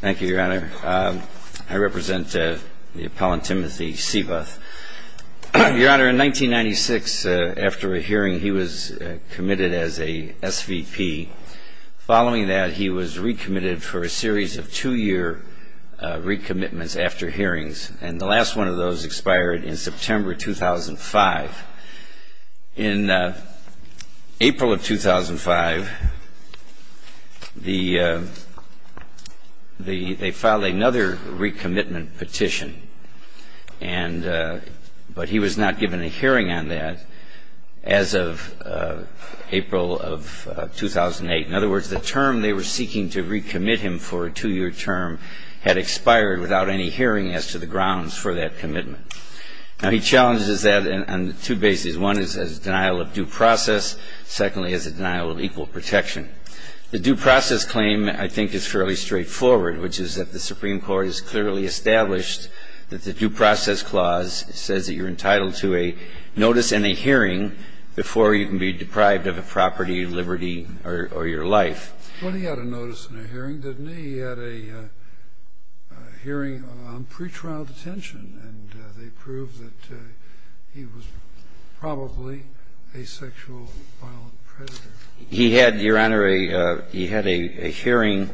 Thank you, Your Honor. I represent the appellant, Timothy Seeboth. Your Honor, in 1996, after a hearing, he was committed as a SVP. Following that, he was recommitted for a series of two-year recommitments after hearings, and the last one of those expired in September 2005. In April of 2005, they filed another recommitment petition, but he was not given a hearing on that as of April of 2008. In other words, the term they were seeking to recommit him for, a two-year term, had expired without any hearing as to the grounds for that commitment. Now, he challenges that on two bases. One is as a denial of due process. Secondly, as a denial of equal protection. The due process claim, I think, is fairly straightforward, which is that the Supreme Court has clearly established that the due process clause says that you're entitled to a notice and a hearing before you can be deprived of a property, liberty, or your life. Well, he had a notice and a hearing, didn't he? He had a hearing on pretrial detention, and they proved that he was probably a sexual violent predator. He had, Your Honor, he had a hearing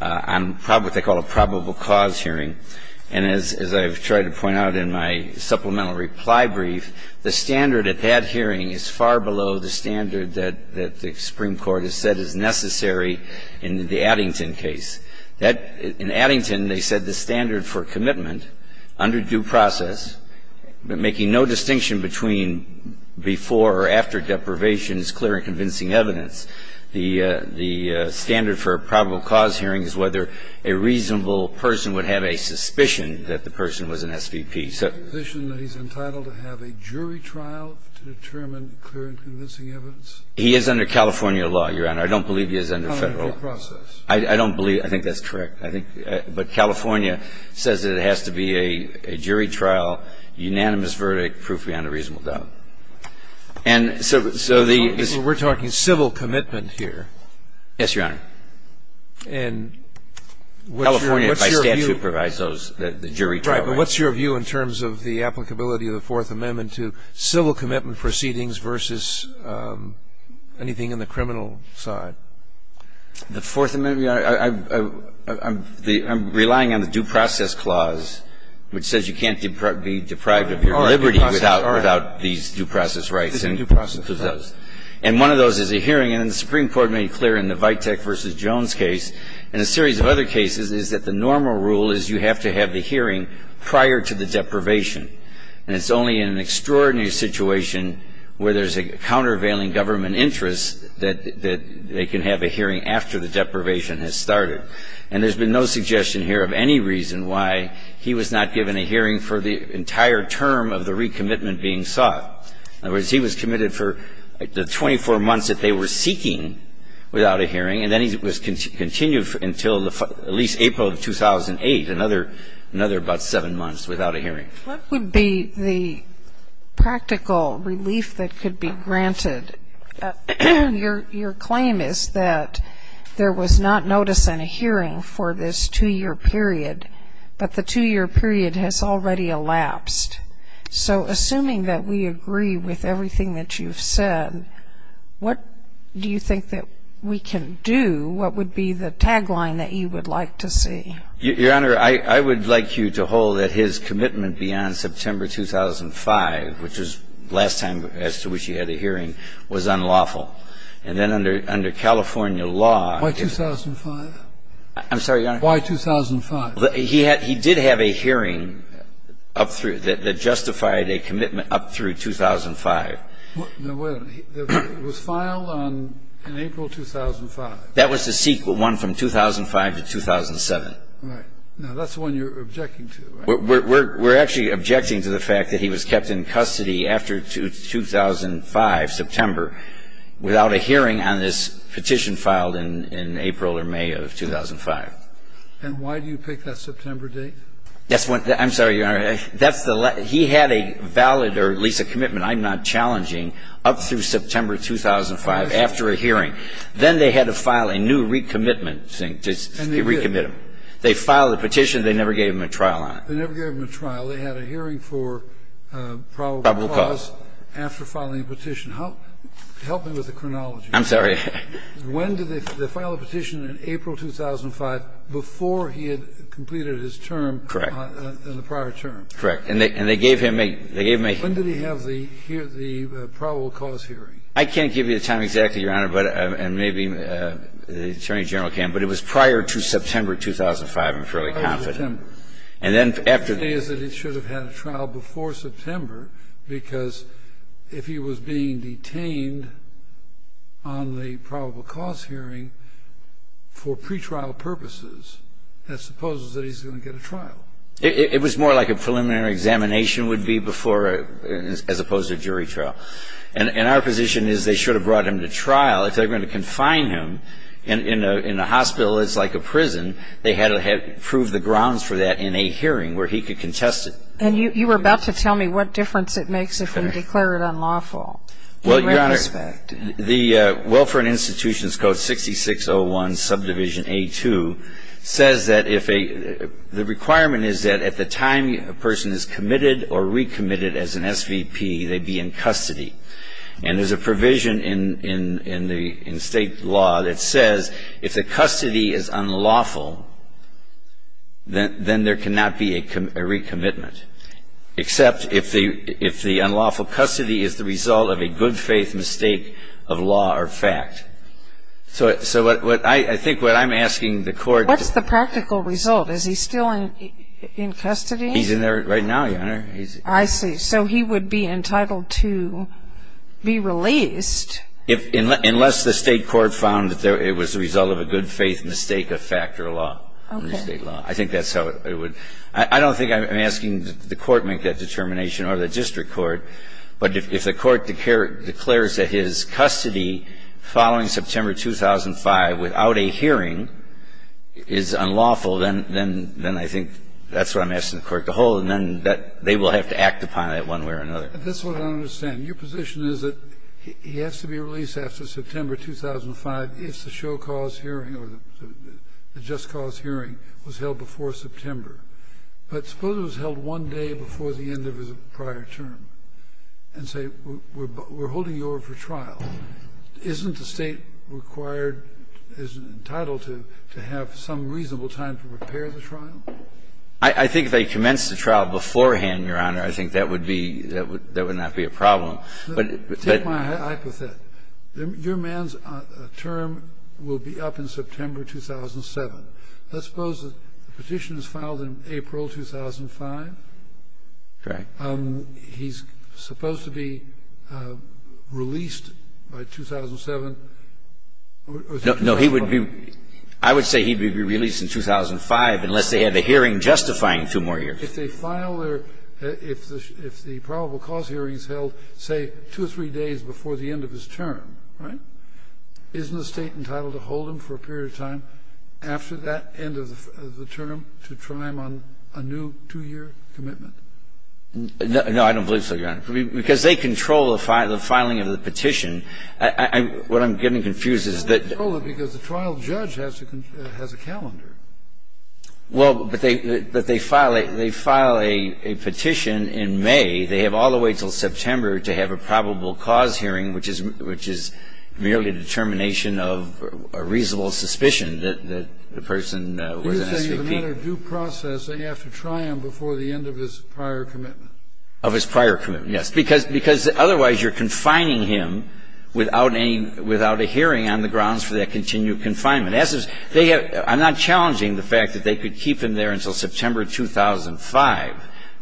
on what they call a probable cause hearing. And as I've tried to point out in my supplemental reply brief, the standard at that hearing is far below the standard that the Supreme Court has said is necessary in the Addington case. That, in Addington, they said the standard for commitment under due process, making no distinction between before or after deprivation, is clear and convincing evidence. The standard for a probable cause hearing is whether a reasonable person would have a suspicion that the person was an SVP. So he's entitled to have a jury trial to determine clear and convincing evidence. He is under California law, Your Honor. Under due process. I don't believe that. I think that's correct. But California says that it has to be a jury trial, unanimous verdict, proof beyond a reasonable doubt. And so the ---- We're talking civil commitment here. Yes, Your Honor. And what's your view? California, by statute, provides those, the jury trial. Right. But what's your view in terms of the applicability of the Fourth Amendment to civil commitment proceedings versus anything in the criminal side? The Fourth Amendment? I'm relying on the due process clause, which says you can't be deprived of your liberty without these due process rights. It's the due process clause. And one of those is a hearing. And the Supreme Court made clear in the Vitek v. Jones case and a series of other cases is that the normal rule is you have to have the hearing prior to the deprivation. And it's only in an extraordinary situation where there's a countervailing government interest that they can have a hearing after the deprivation has started. And there's been no suggestion here of any reason why he was not given a hearing for the entire term of the recommitment being sought. In other words, he was committed for the 24 months that they were seeking without a hearing, and then he was continued until at least April of 2008, another about seven months without a hearing. What would be the practical relief that could be granted? Your claim is that there was not notice and a hearing for this two-year period, but the two-year period has already elapsed. So assuming that we agree with everything that you've said, what do you think that we can do, what would be the tagline that you would like to see? Your Honor, I would like you to hold that his commitment beyond September 2005, which was the last time as to which he had a hearing, was unlawful. And then under California law, if the ---- Why 2005? I'm sorry, Your Honor? Why 2005? He did have a hearing that justified a commitment up through 2005. No, wait a minute. It was filed on April 2005. That was the one from 2005 to 2007. Right. Now, that's the one you're objecting to, right? We're actually objecting to the fact that he was kept in custody after 2005, September, without a hearing on this petition filed in April or May of 2005. And why do you pick that September date? That's what the ---- I'm sorry, Your Honor. That's the ---- he had a valid or at least a commitment, I'm not challenging, up through September 2005 after a hearing. Then they had to file a new recommitment thing to recommit him. They filed the petition. They never gave him a trial on it. They never gave him a trial. They had a hearing for probable cause after filing the petition. Help me with the chronology. I'm sorry. When did they file the petition? In April 2005, before he had completed his term in the prior term. Correct. And they gave him a ---- When did he have the probable cause hearing? I can't give you the time exactly, Your Honor, and maybe the Attorney General can, but it was prior to September 2005, I'm fairly confident. And then after the ---- The thing is that he should have had a trial before September, because if he was being detained on the probable cause hearing for pretrial purposes, that supposes that he's going to get a trial. It was more like a preliminary examination would be before, as opposed to a jury trial. And our position is they should have brought him to trial. If they're going to confine him in a hospital that's like a prison, they had to prove the grounds for that in a hearing where he could contest it. And you were about to tell me what difference it makes if we declare it unlawful. Well, Your Honor, the Welfare and Institutions Code 6601, subdivision A2, says that if a ---- the requirement is that at the time a person is committed or recommitted as an SVP, they be in custody. And there's a provision in state law that says if the custody is unlawful, then there cannot be a recommitment, except if the unlawful custody is the result of a good-faith mistake of law or fact. So I think what I'm asking the Court to ---- What's the practical result? Is he still in custody? He's in there right now, Your Honor. I see. So he would be entitled to be released. Unless the state court found that it was the result of a good-faith mistake of fact or law. Okay. Under state law. I think that's how it would ---- I don't think I'm asking the Court to make that determination or the district court. But if the Court declares that his custody following September 2005 without a hearing is unlawful, then I think that's what I'm asking the Court to hold. And then they will have to act upon it one way or another. That's what I don't understand. Your position is that he has to be released after September 2005 if the show cause hearing or the just cause hearing was held before September. But suppose it was held one day before the end of his prior term and say we're holding you over for trial. Isn't the state required, entitled to, to have some reasonable time to prepare the trial? I think if they commenced the trial beforehand, Your Honor, I think that would be ---- that would not be a problem. But ---- Take my hypothesis. Your man's term will be up in September 2007. Let's suppose the petition is filed in April 2005. Correct. He's supposed to be released by 2007. No. He would be ---- I would say he would be released in 2005 unless they had a hearing justifying two more years. If they file their ---- if the probable cause hearing is held, say, two or three days before the end of his term, right, isn't the state entitled to hold him for a period of time after that end of the term to try him on a new two-year commitment? No, I don't believe so, Your Honor. Because they control the filing of the petition. What I'm getting confused is that ---- They don't control it because the trial judge has a calendar. Well, but they file a petition in May. They have all the way until September to have a probable cause hearing, which is merely a determination of a reasonable suspicion that the person was an SVP. If it's a matter of due process, they have to try him before the end of his prior commitment. Of his prior commitment, yes. Because otherwise you're confining him without any ---- without a hearing on the grounds for that continued confinement. As it is, they have ---- I'm not challenging the fact that they could keep him there until September 2005.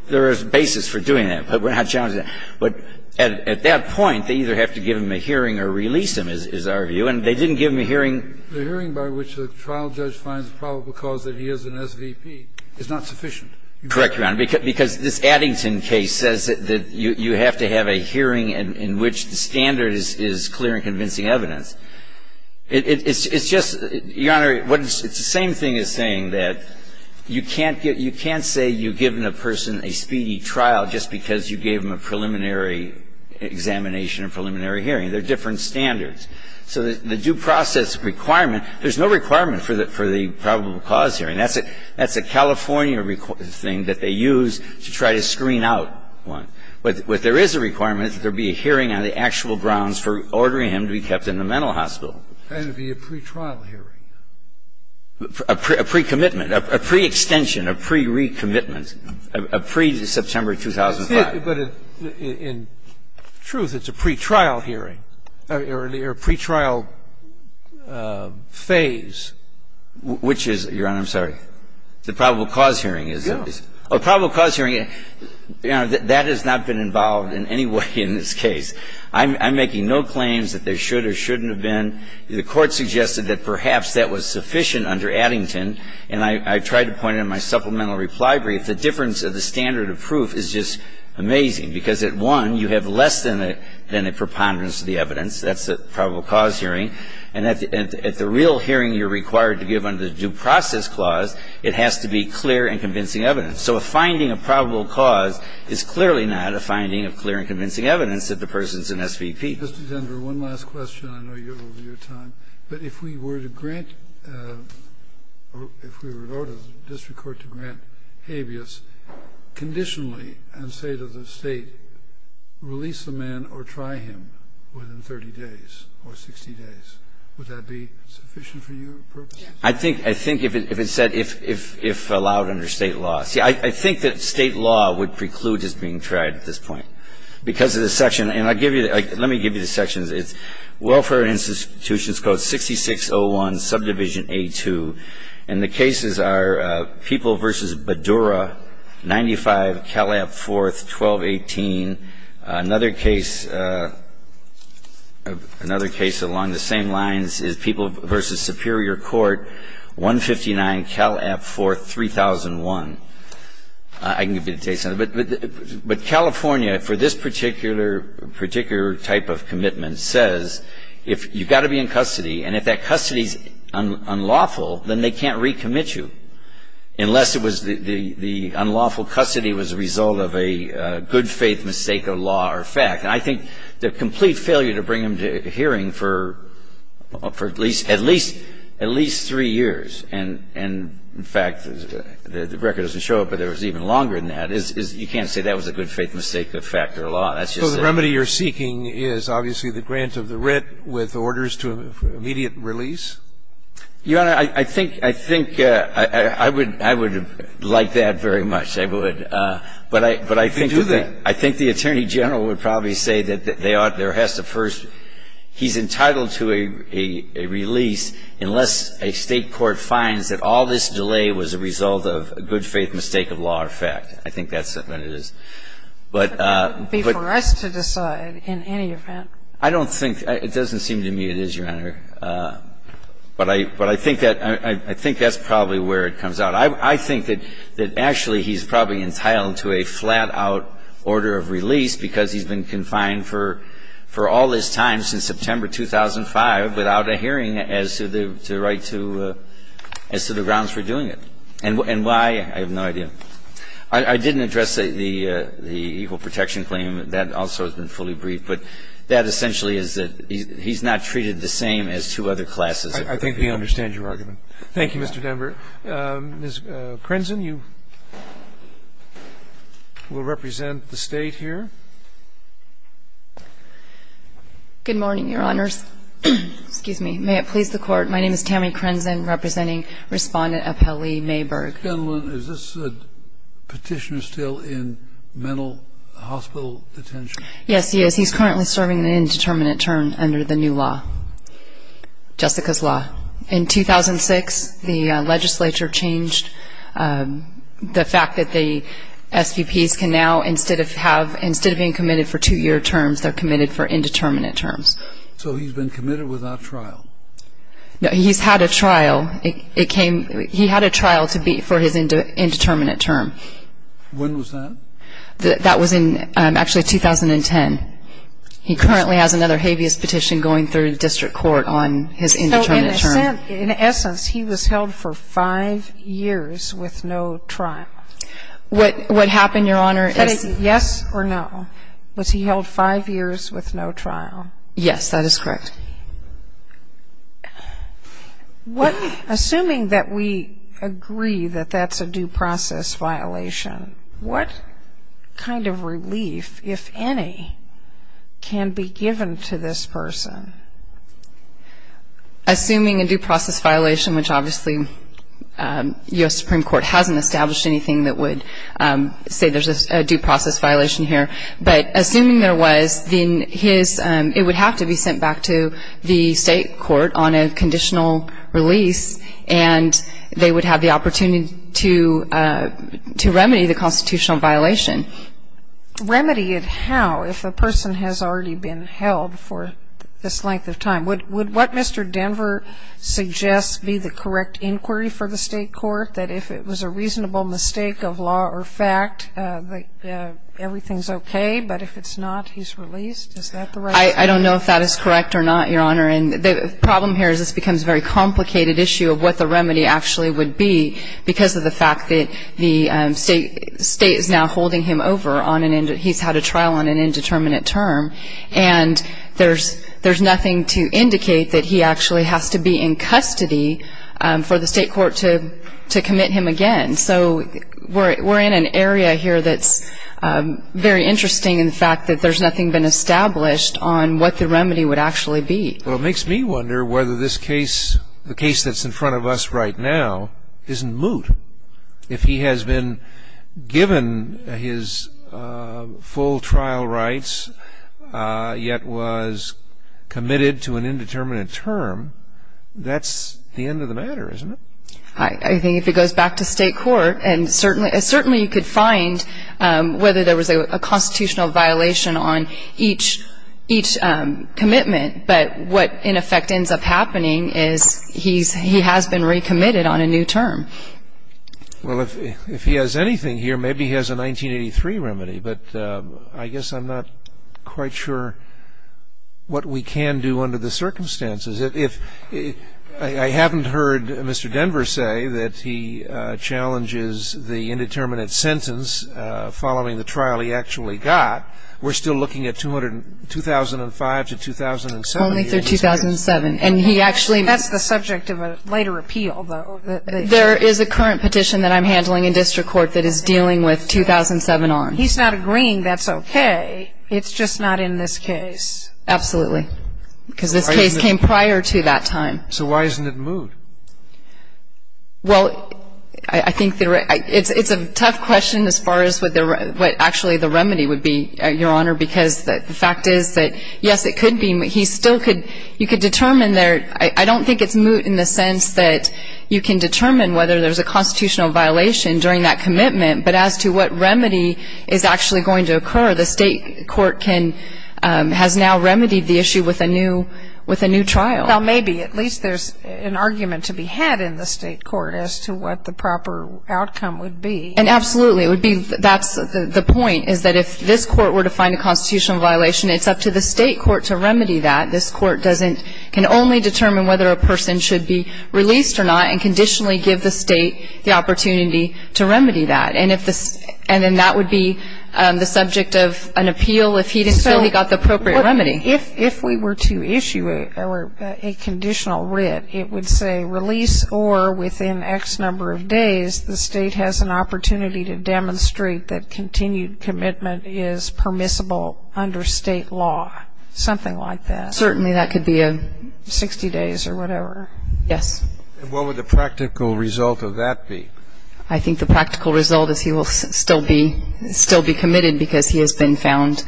There is a basis for doing that, but we're not challenging that. But at that point, they either have to give him a hearing or release him, is our view. And they didn't give him a hearing. The hearing by which the trial judge finds the probable cause that he is an SVP is not sufficient. Correct, Your Honor. Because this Addington case says that you have to have a hearing in which the standard is clear and convincing evidence. It's just, Your Honor, it's the same thing as saying that you can't get ---- you can't say you've given a person a speedy trial just because you gave them a preliminary examination, a preliminary hearing. They're different standards. So the due process requirement, there's no requirement for the probable cause hearing. That's a California thing that they use to try to screen out one. What there is a requirement is that there be a hearing on the actual grounds for ordering him to be kept in the mental hospital. And it would be a pretrial hearing. A pre-commitment. A pre-extension. A pre-recommitment. A pre-September 2005. But in truth, it's a pretrial hearing or a pretrial phase. Which is, Your Honor, I'm sorry, the probable cause hearing is. Yes. A probable cause hearing, Your Honor, that has not been involved in any way in this case. I'm making no claims that there should or shouldn't have been. The Court suggested that perhaps that was sufficient under Addington. And I tried to point it in my supplemental reply brief. The difference of the standard of proof is just amazing. Because at one, you have less than a preponderance of the evidence. That's the probable cause hearing. And at the real hearing you're required to give under the due process clause, it has to be clear and convincing evidence. So a finding of probable cause is clearly not a finding of clear and convincing evidence that the person's an SVP. Mr. Denver, one last question. I know you're over your time. But if we were to grant, if we were to go to the district court to grant habeas conditionally and say to the state, release the man or try him within 30 days or 60 days, would that be sufficient for your purpose? I think if it said, if allowed under state law. See, I think that state law would preclude his being tried at this point. Because of the section, and I'll give you, let me give you the sections. It's Welfare Institutions Code 6601, Subdivision A2. And the cases are People v. Badura, 95, Cal App 4th, 1218. Another case along the same lines is People v. Superior Court, 159, Cal App 4th, 3001. I can give you the dates on it. But California, for this particular type of commitment, says if you've got to be in custody, and if that custody is unlawful, then they can't recommit you unless it was the unlawful custody was a result of a good faith mistake of law or fact. And I think the complete failure to bring him to hearing for at least three years and, in fact, the record doesn't show it, but it was even longer than that, is you can't say that was a good faith mistake of fact or law. That's just a remedy you're seeking is obviously the grant of the writ with orders to immediate release? Your Honor, I think, I think I would, I would like that very much. I would. But I, but I think, I think the Attorney General would probably say that they ought to, there has to first, he's entitled to a, a release unless a State court finds that all this delay was a result of a good faith mistake of law or fact. I think that's when it is. But, but. For us to decide in any event. I don't think, it doesn't seem to me it is, Your Honor. But I, but I think that, I think that's probably where it comes out. I, I think that, that actually he's probably entitled to a flat-out order of release because he's been confined for, for all this time since September 2005 without a hearing as to the, to the right to, as to the grounds for doing it. And why, I have no idea. I, I didn't address the, the, the equal protection claim. That also has been fully briefed. But that essentially is that he's not treated the same as two other classes. I think we understand your argument. Thank you, Mr. Denver. Ms. Crenson, you will represent the State here. Good morning, Your Honors. Excuse me. May it please the Court. My name is Tammy Crenson representing Respondent Appellee Mayberg. Is this Petitioner still in mental hospital detention? Yes, he is. He's currently serving an indeterminate term under the new law, Jessica's law. In 2006, the legislature changed the fact that the SVPs can now, instead of have, instead of being committed for two-year terms, they're committed for indeterminate terms. So he's been committed without trial? No, he's had a trial. It came, he had a trial to be, for his indeterminate term. When was that? That was in, actually, 2010. He currently has another habeas petition going through the district court on his indeterminate term. In essence, he was held for five years with no trial. What happened, Your Honor, is he? Yes or no. Was he held five years with no trial? Yes, that is correct. Assuming that we agree that that's a due process violation, what kind of relief, if any, can be given to this person? Assuming a due process violation, which obviously U.S. Supreme Court hasn't established anything that would say there's a due process violation here, but assuming there was, then his, it would have to be sent back to the state court on a conditional release, and they would have the opportunity to remedy the constitutional violation. Remedy it how, if a person has already been held for this length of time? Would what Mr. Denver suggests be the correct inquiry for the state court, that if it was a reasonable mistake of law or fact, everything's okay, but if it's not, he's released? Is that the right? I don't know if that is correct or not, Your Honor. And the problem here is this becomes a very complicated issue of what the remedy actually would be because of the fact that the state is now holding him over. He's had a trial on an indeterminate term, and there's nothing to indicate that he actually has to be in custody for the state court to commit him again. So we're in an area here that's very interesting in the fact that there's nothing been established on what the remedy would actually be. Well, it makes me wonder whether this case, the case that's in front of us right now, isn't moot. If he has been given his full trial rights, yet was committed to an indeterminate term, that's the end of the matter, isn't it? I think if it goes back to state court, and certainly you could find whether there was a constitutional violation on each commitment, but what in effect ends up happening is he has been recommitted on a new term. Well, if he has anything here, maybe he has a 1983 remedy, but I guess I'm not quite sure what we can do under the circumstances. I haven't heard Mr. Denver say that he challenges the indeterminate sentence following the trial he actually got. We're still looking at 2005 to 2007. Only through 2007. And he actually ---- That's the subject of a later appeal, though. There is a current petition that I'm handling in district court that is dealing with 2007 on. He's not agreeing that's okay. It's just not in this case. Absolutely. Because this case came prior to that time. So why isn't it moot? Well, I think it's a tough question as far as what actually the remedy would be, Your Honor, because the fact is that, yes, it could be moot. He still could ---- you could determine there. I don't think it's moot in the sense that you can determine whether there's a constitutional violation during that commitment, but as to what remedy is actually going to occur, the state court can ---- has now remedied the issue with a new trial. Well, maybe. At least there's an argument to be had in the state court as to what the proper outcome would be. And absolutely. That's the point, is that if this court were to find a constitutional violation, it's up to the state court to remedy that. This court can only determine whether a person should be released or not and conditionally give the state the opportunity to remedy that. And then that would be the subject of an appeal if he didn't feel he got the appropriate remedy. If we were to issue a conditional writ, it would say release or within X number of days, the state has an opportunity to demonstrate that continued commitment is permissible under state law, something like that. Certainly that could be a ---- 60 days or whatever. Yes. And what would the practical result of that be? I think the practical result is he will still be committed because he has been found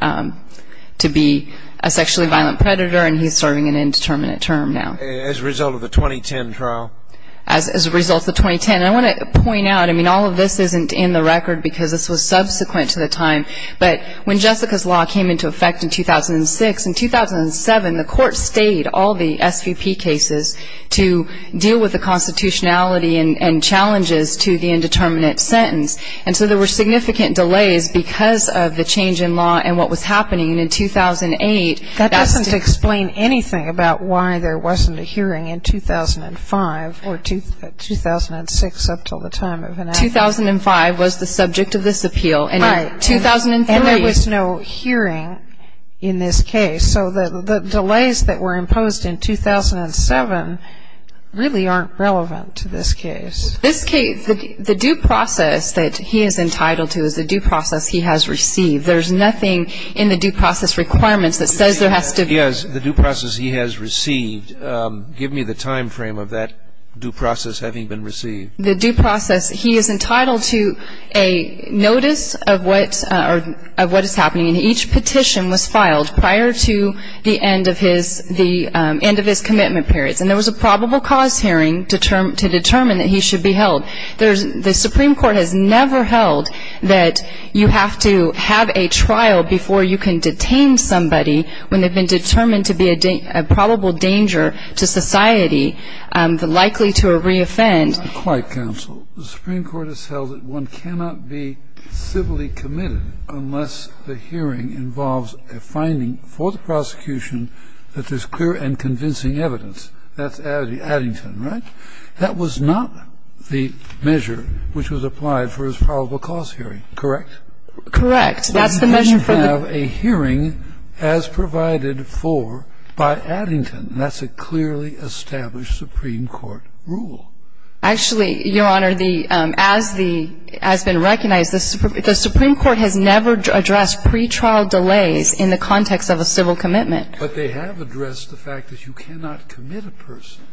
to be a sexually violent predator and he's serving an indeterminate term now. As a result of the 2010 trial? As a result of 2010. And I want to point out, I mean, all of this isn't in the record because this was subsequent to the time. But when Jessica's law came into effect in 2006, in 2007, the court stayed all the SVP cases to deal with the constitutionality and challenges to the indeterminate sentence. And so there were significant delays because of the change in law and what was happening. And in 2008, that's the ---- That doesn't explain anything about why there wasn't a hearing in 2005 or 2006 up until the time of enactment. 2005 was the subject of this appeal. Right. And in 2003 ---- And there was no hearing in this case. So the delays that were imposed in 2007 really aren't relevant to this case. This case, the due process that he is entitled to is the due process he has received. There's nothing in the due process requirements that says there has to be ---- Yes, the due process he has received. Give me the time frame of that due process having been received. The due process, he is entitled to a notice of what is happening. And each petition was filed prior to the end of his commitment periods. And there was a probable cause hearing to determine that he should be held. The Supreme Court has never held that you have to have a trial before you can detain somebody when they've been determined to be a probable danger to society, likely to reoffend. Quiet, counsel. The Supreme Court has held that one cannot be civilly committed unless the hearing involves a finding for the prosecution that there's clear and convincing evidence. That's Addington, right? That was not the measure which was applied for his probable cause hearing, correct? Correct. That's the measure for the ---- He didn't have a hearing as provided for by Addington. That's a clearly established Supreme Court rule. Actually, Your Honor, the ---- as the ---- as been recognized, the Supreme Court has never addressed pretrial delays in the context of a civil commitment. But they have addressed the fact that you cannot commit a person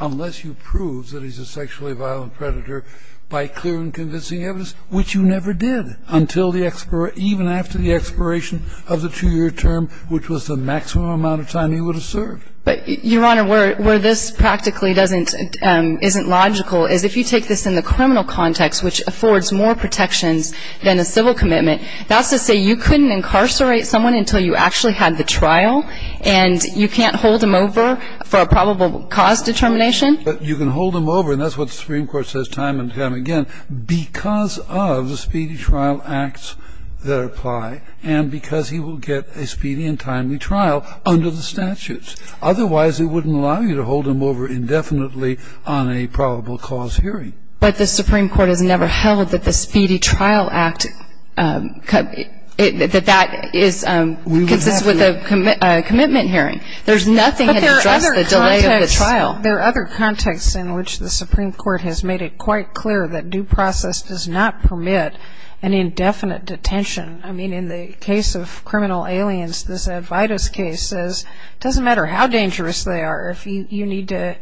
unless you prove that he's a sexually violent predator by clear and convincing evidence, which you never did until the ---- even after the expiration of the two-year term, which was the maximum amount of time he would have served. But, Your Honor, where this practically doesn't ---- isn't logical is if you take this in the criminal context, which affords more protections than a civil commitment, that's to say you couldn't incarcerate someone until you actually had the trial and you can't hold him over for a probable cause determination. But you can hold him over, and that's what the Supreme Court says time and time again, because of the speedy trial acts that apply and because he will get a speedy and timely trial under the statutes. Otherwise, it wouldn't allow you to hold him over indefinitely on a probable cause hearing. But the Supreme Court has never held that the speedy trial act ---- that that is ---- We would have to. Consists with a commitment hearing. There's nothing that addresses the delay of the trial. But there are other contexts in which the Supreme Court has made it quite clear that due process does not permit an indefinite detention. I mean, in the case of criminal aliens, this Advaita's case says it doesn't matter how dangerous they are. You need to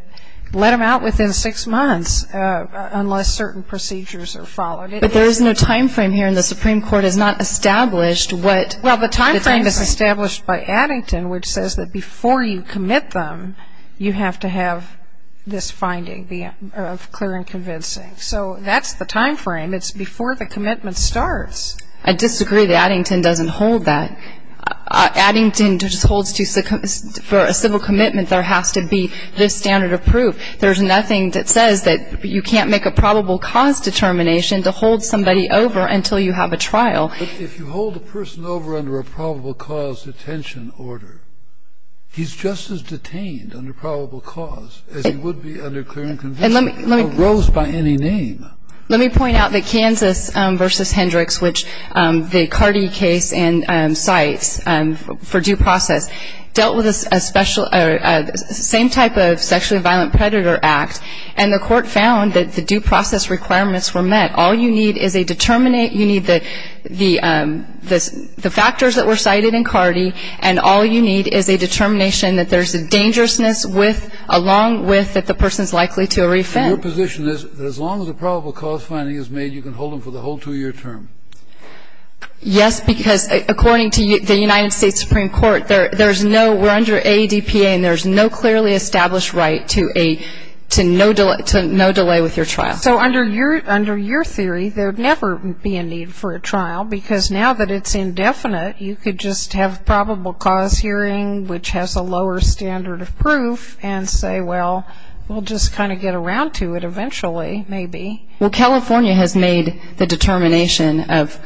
let them out within six months unless certain procedures are followed. But there is no time frame here, and the Supreme Court has not established what ---- Well, the time frame is established by Addington, which says that before you commit them, you have to have this finding of clear and convincing. So that's the time frame. It's before the commitment starts. I disagree that Addington doesn't hold that. Addington just holds to ---- for a civil commitment, there has to be this standard of proof. There's nothing that says that you can't make a probable cause determination to hold somebody over until you have a trial. But if you hold a person over under a probable cause detention order, he's just as detained under probable cause as he would be under clear and convincing. And let me ---- Or rose by any name. Let me point out that Kansas v. Hendricks, which the Cardi case cites for due process, dealt with a special ---- same type of sexually violent predator act, and the court found that the due process requirements were met. All you need is a determinate ---- you need the factors that were cited in Cardi, and all you need is a determination that there's a dangerousness with ---- along with that the person's likely to offend. Your position is that as long as a probable cause finding is made, you can hold them for the whole two-year term. Yes, because according to the United States Supreme Court, there's no ---- we're under ADPA, and there's no clearly established right to a ---- to no delay with your trial. So under your theory, there would never be a need for a trial because now that it's indefinite, you could just have probable cause hearing, which has a lower standard of proof, and say, well, we'll just kind of get around to it eventually, maybe. Well, California has made the determination of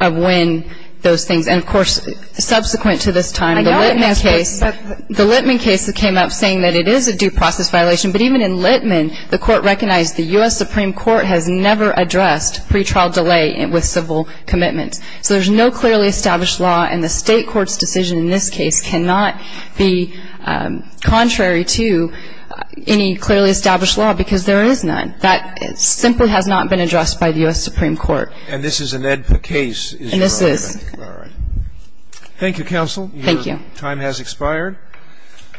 when those things ---- and, of course, subsequent to this time, the Littman case came up saying that it is a due process violation, but even in Littman, the court recognized the U.S. Supreme Court has never addressed pre-trial delay with civil commitments. So there's no clearly established law, and the State court's decision in this case cannot be contrary to any clearly established law because there is none. That simply has not been addressed by the U.S. Supreme Court. And this is an ADPA case, is your argument? And this is. All right. Thank you, counsel. Thank you. Your time has expired.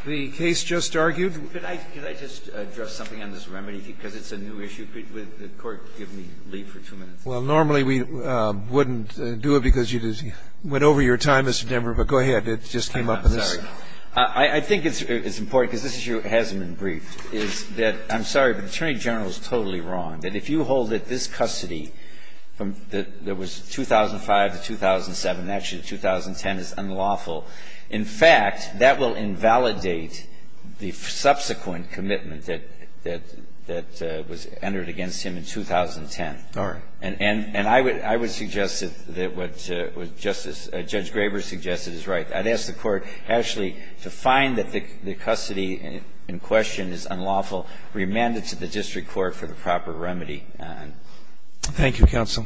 The case just argued. Could I just address something on this remedy, because it's a new issue. Could the Court give me leave for two minutes? Well, normally we wouldn't do it because you went over your time, Mr. Denver, but go ahead. It just came up in this. I'm sorry. I think it's important, because this issue hasn't been briefed, is that ---- I'm sorry, but the Attorney General is totally wrong, that if you hold at this custody, that there was 2005 to 2007, and actually 2010 is unlawful. In fact, that will invalidate the subsequent commitment that was entered against him in 2010. All right. And I would suggest that what Justice ---- Judge Graber suggested is right. I'd ask the Court actually to find that the custody in question is unlawful, remand it to the district court for the proper remedy. Thank you, counsel. Thank you.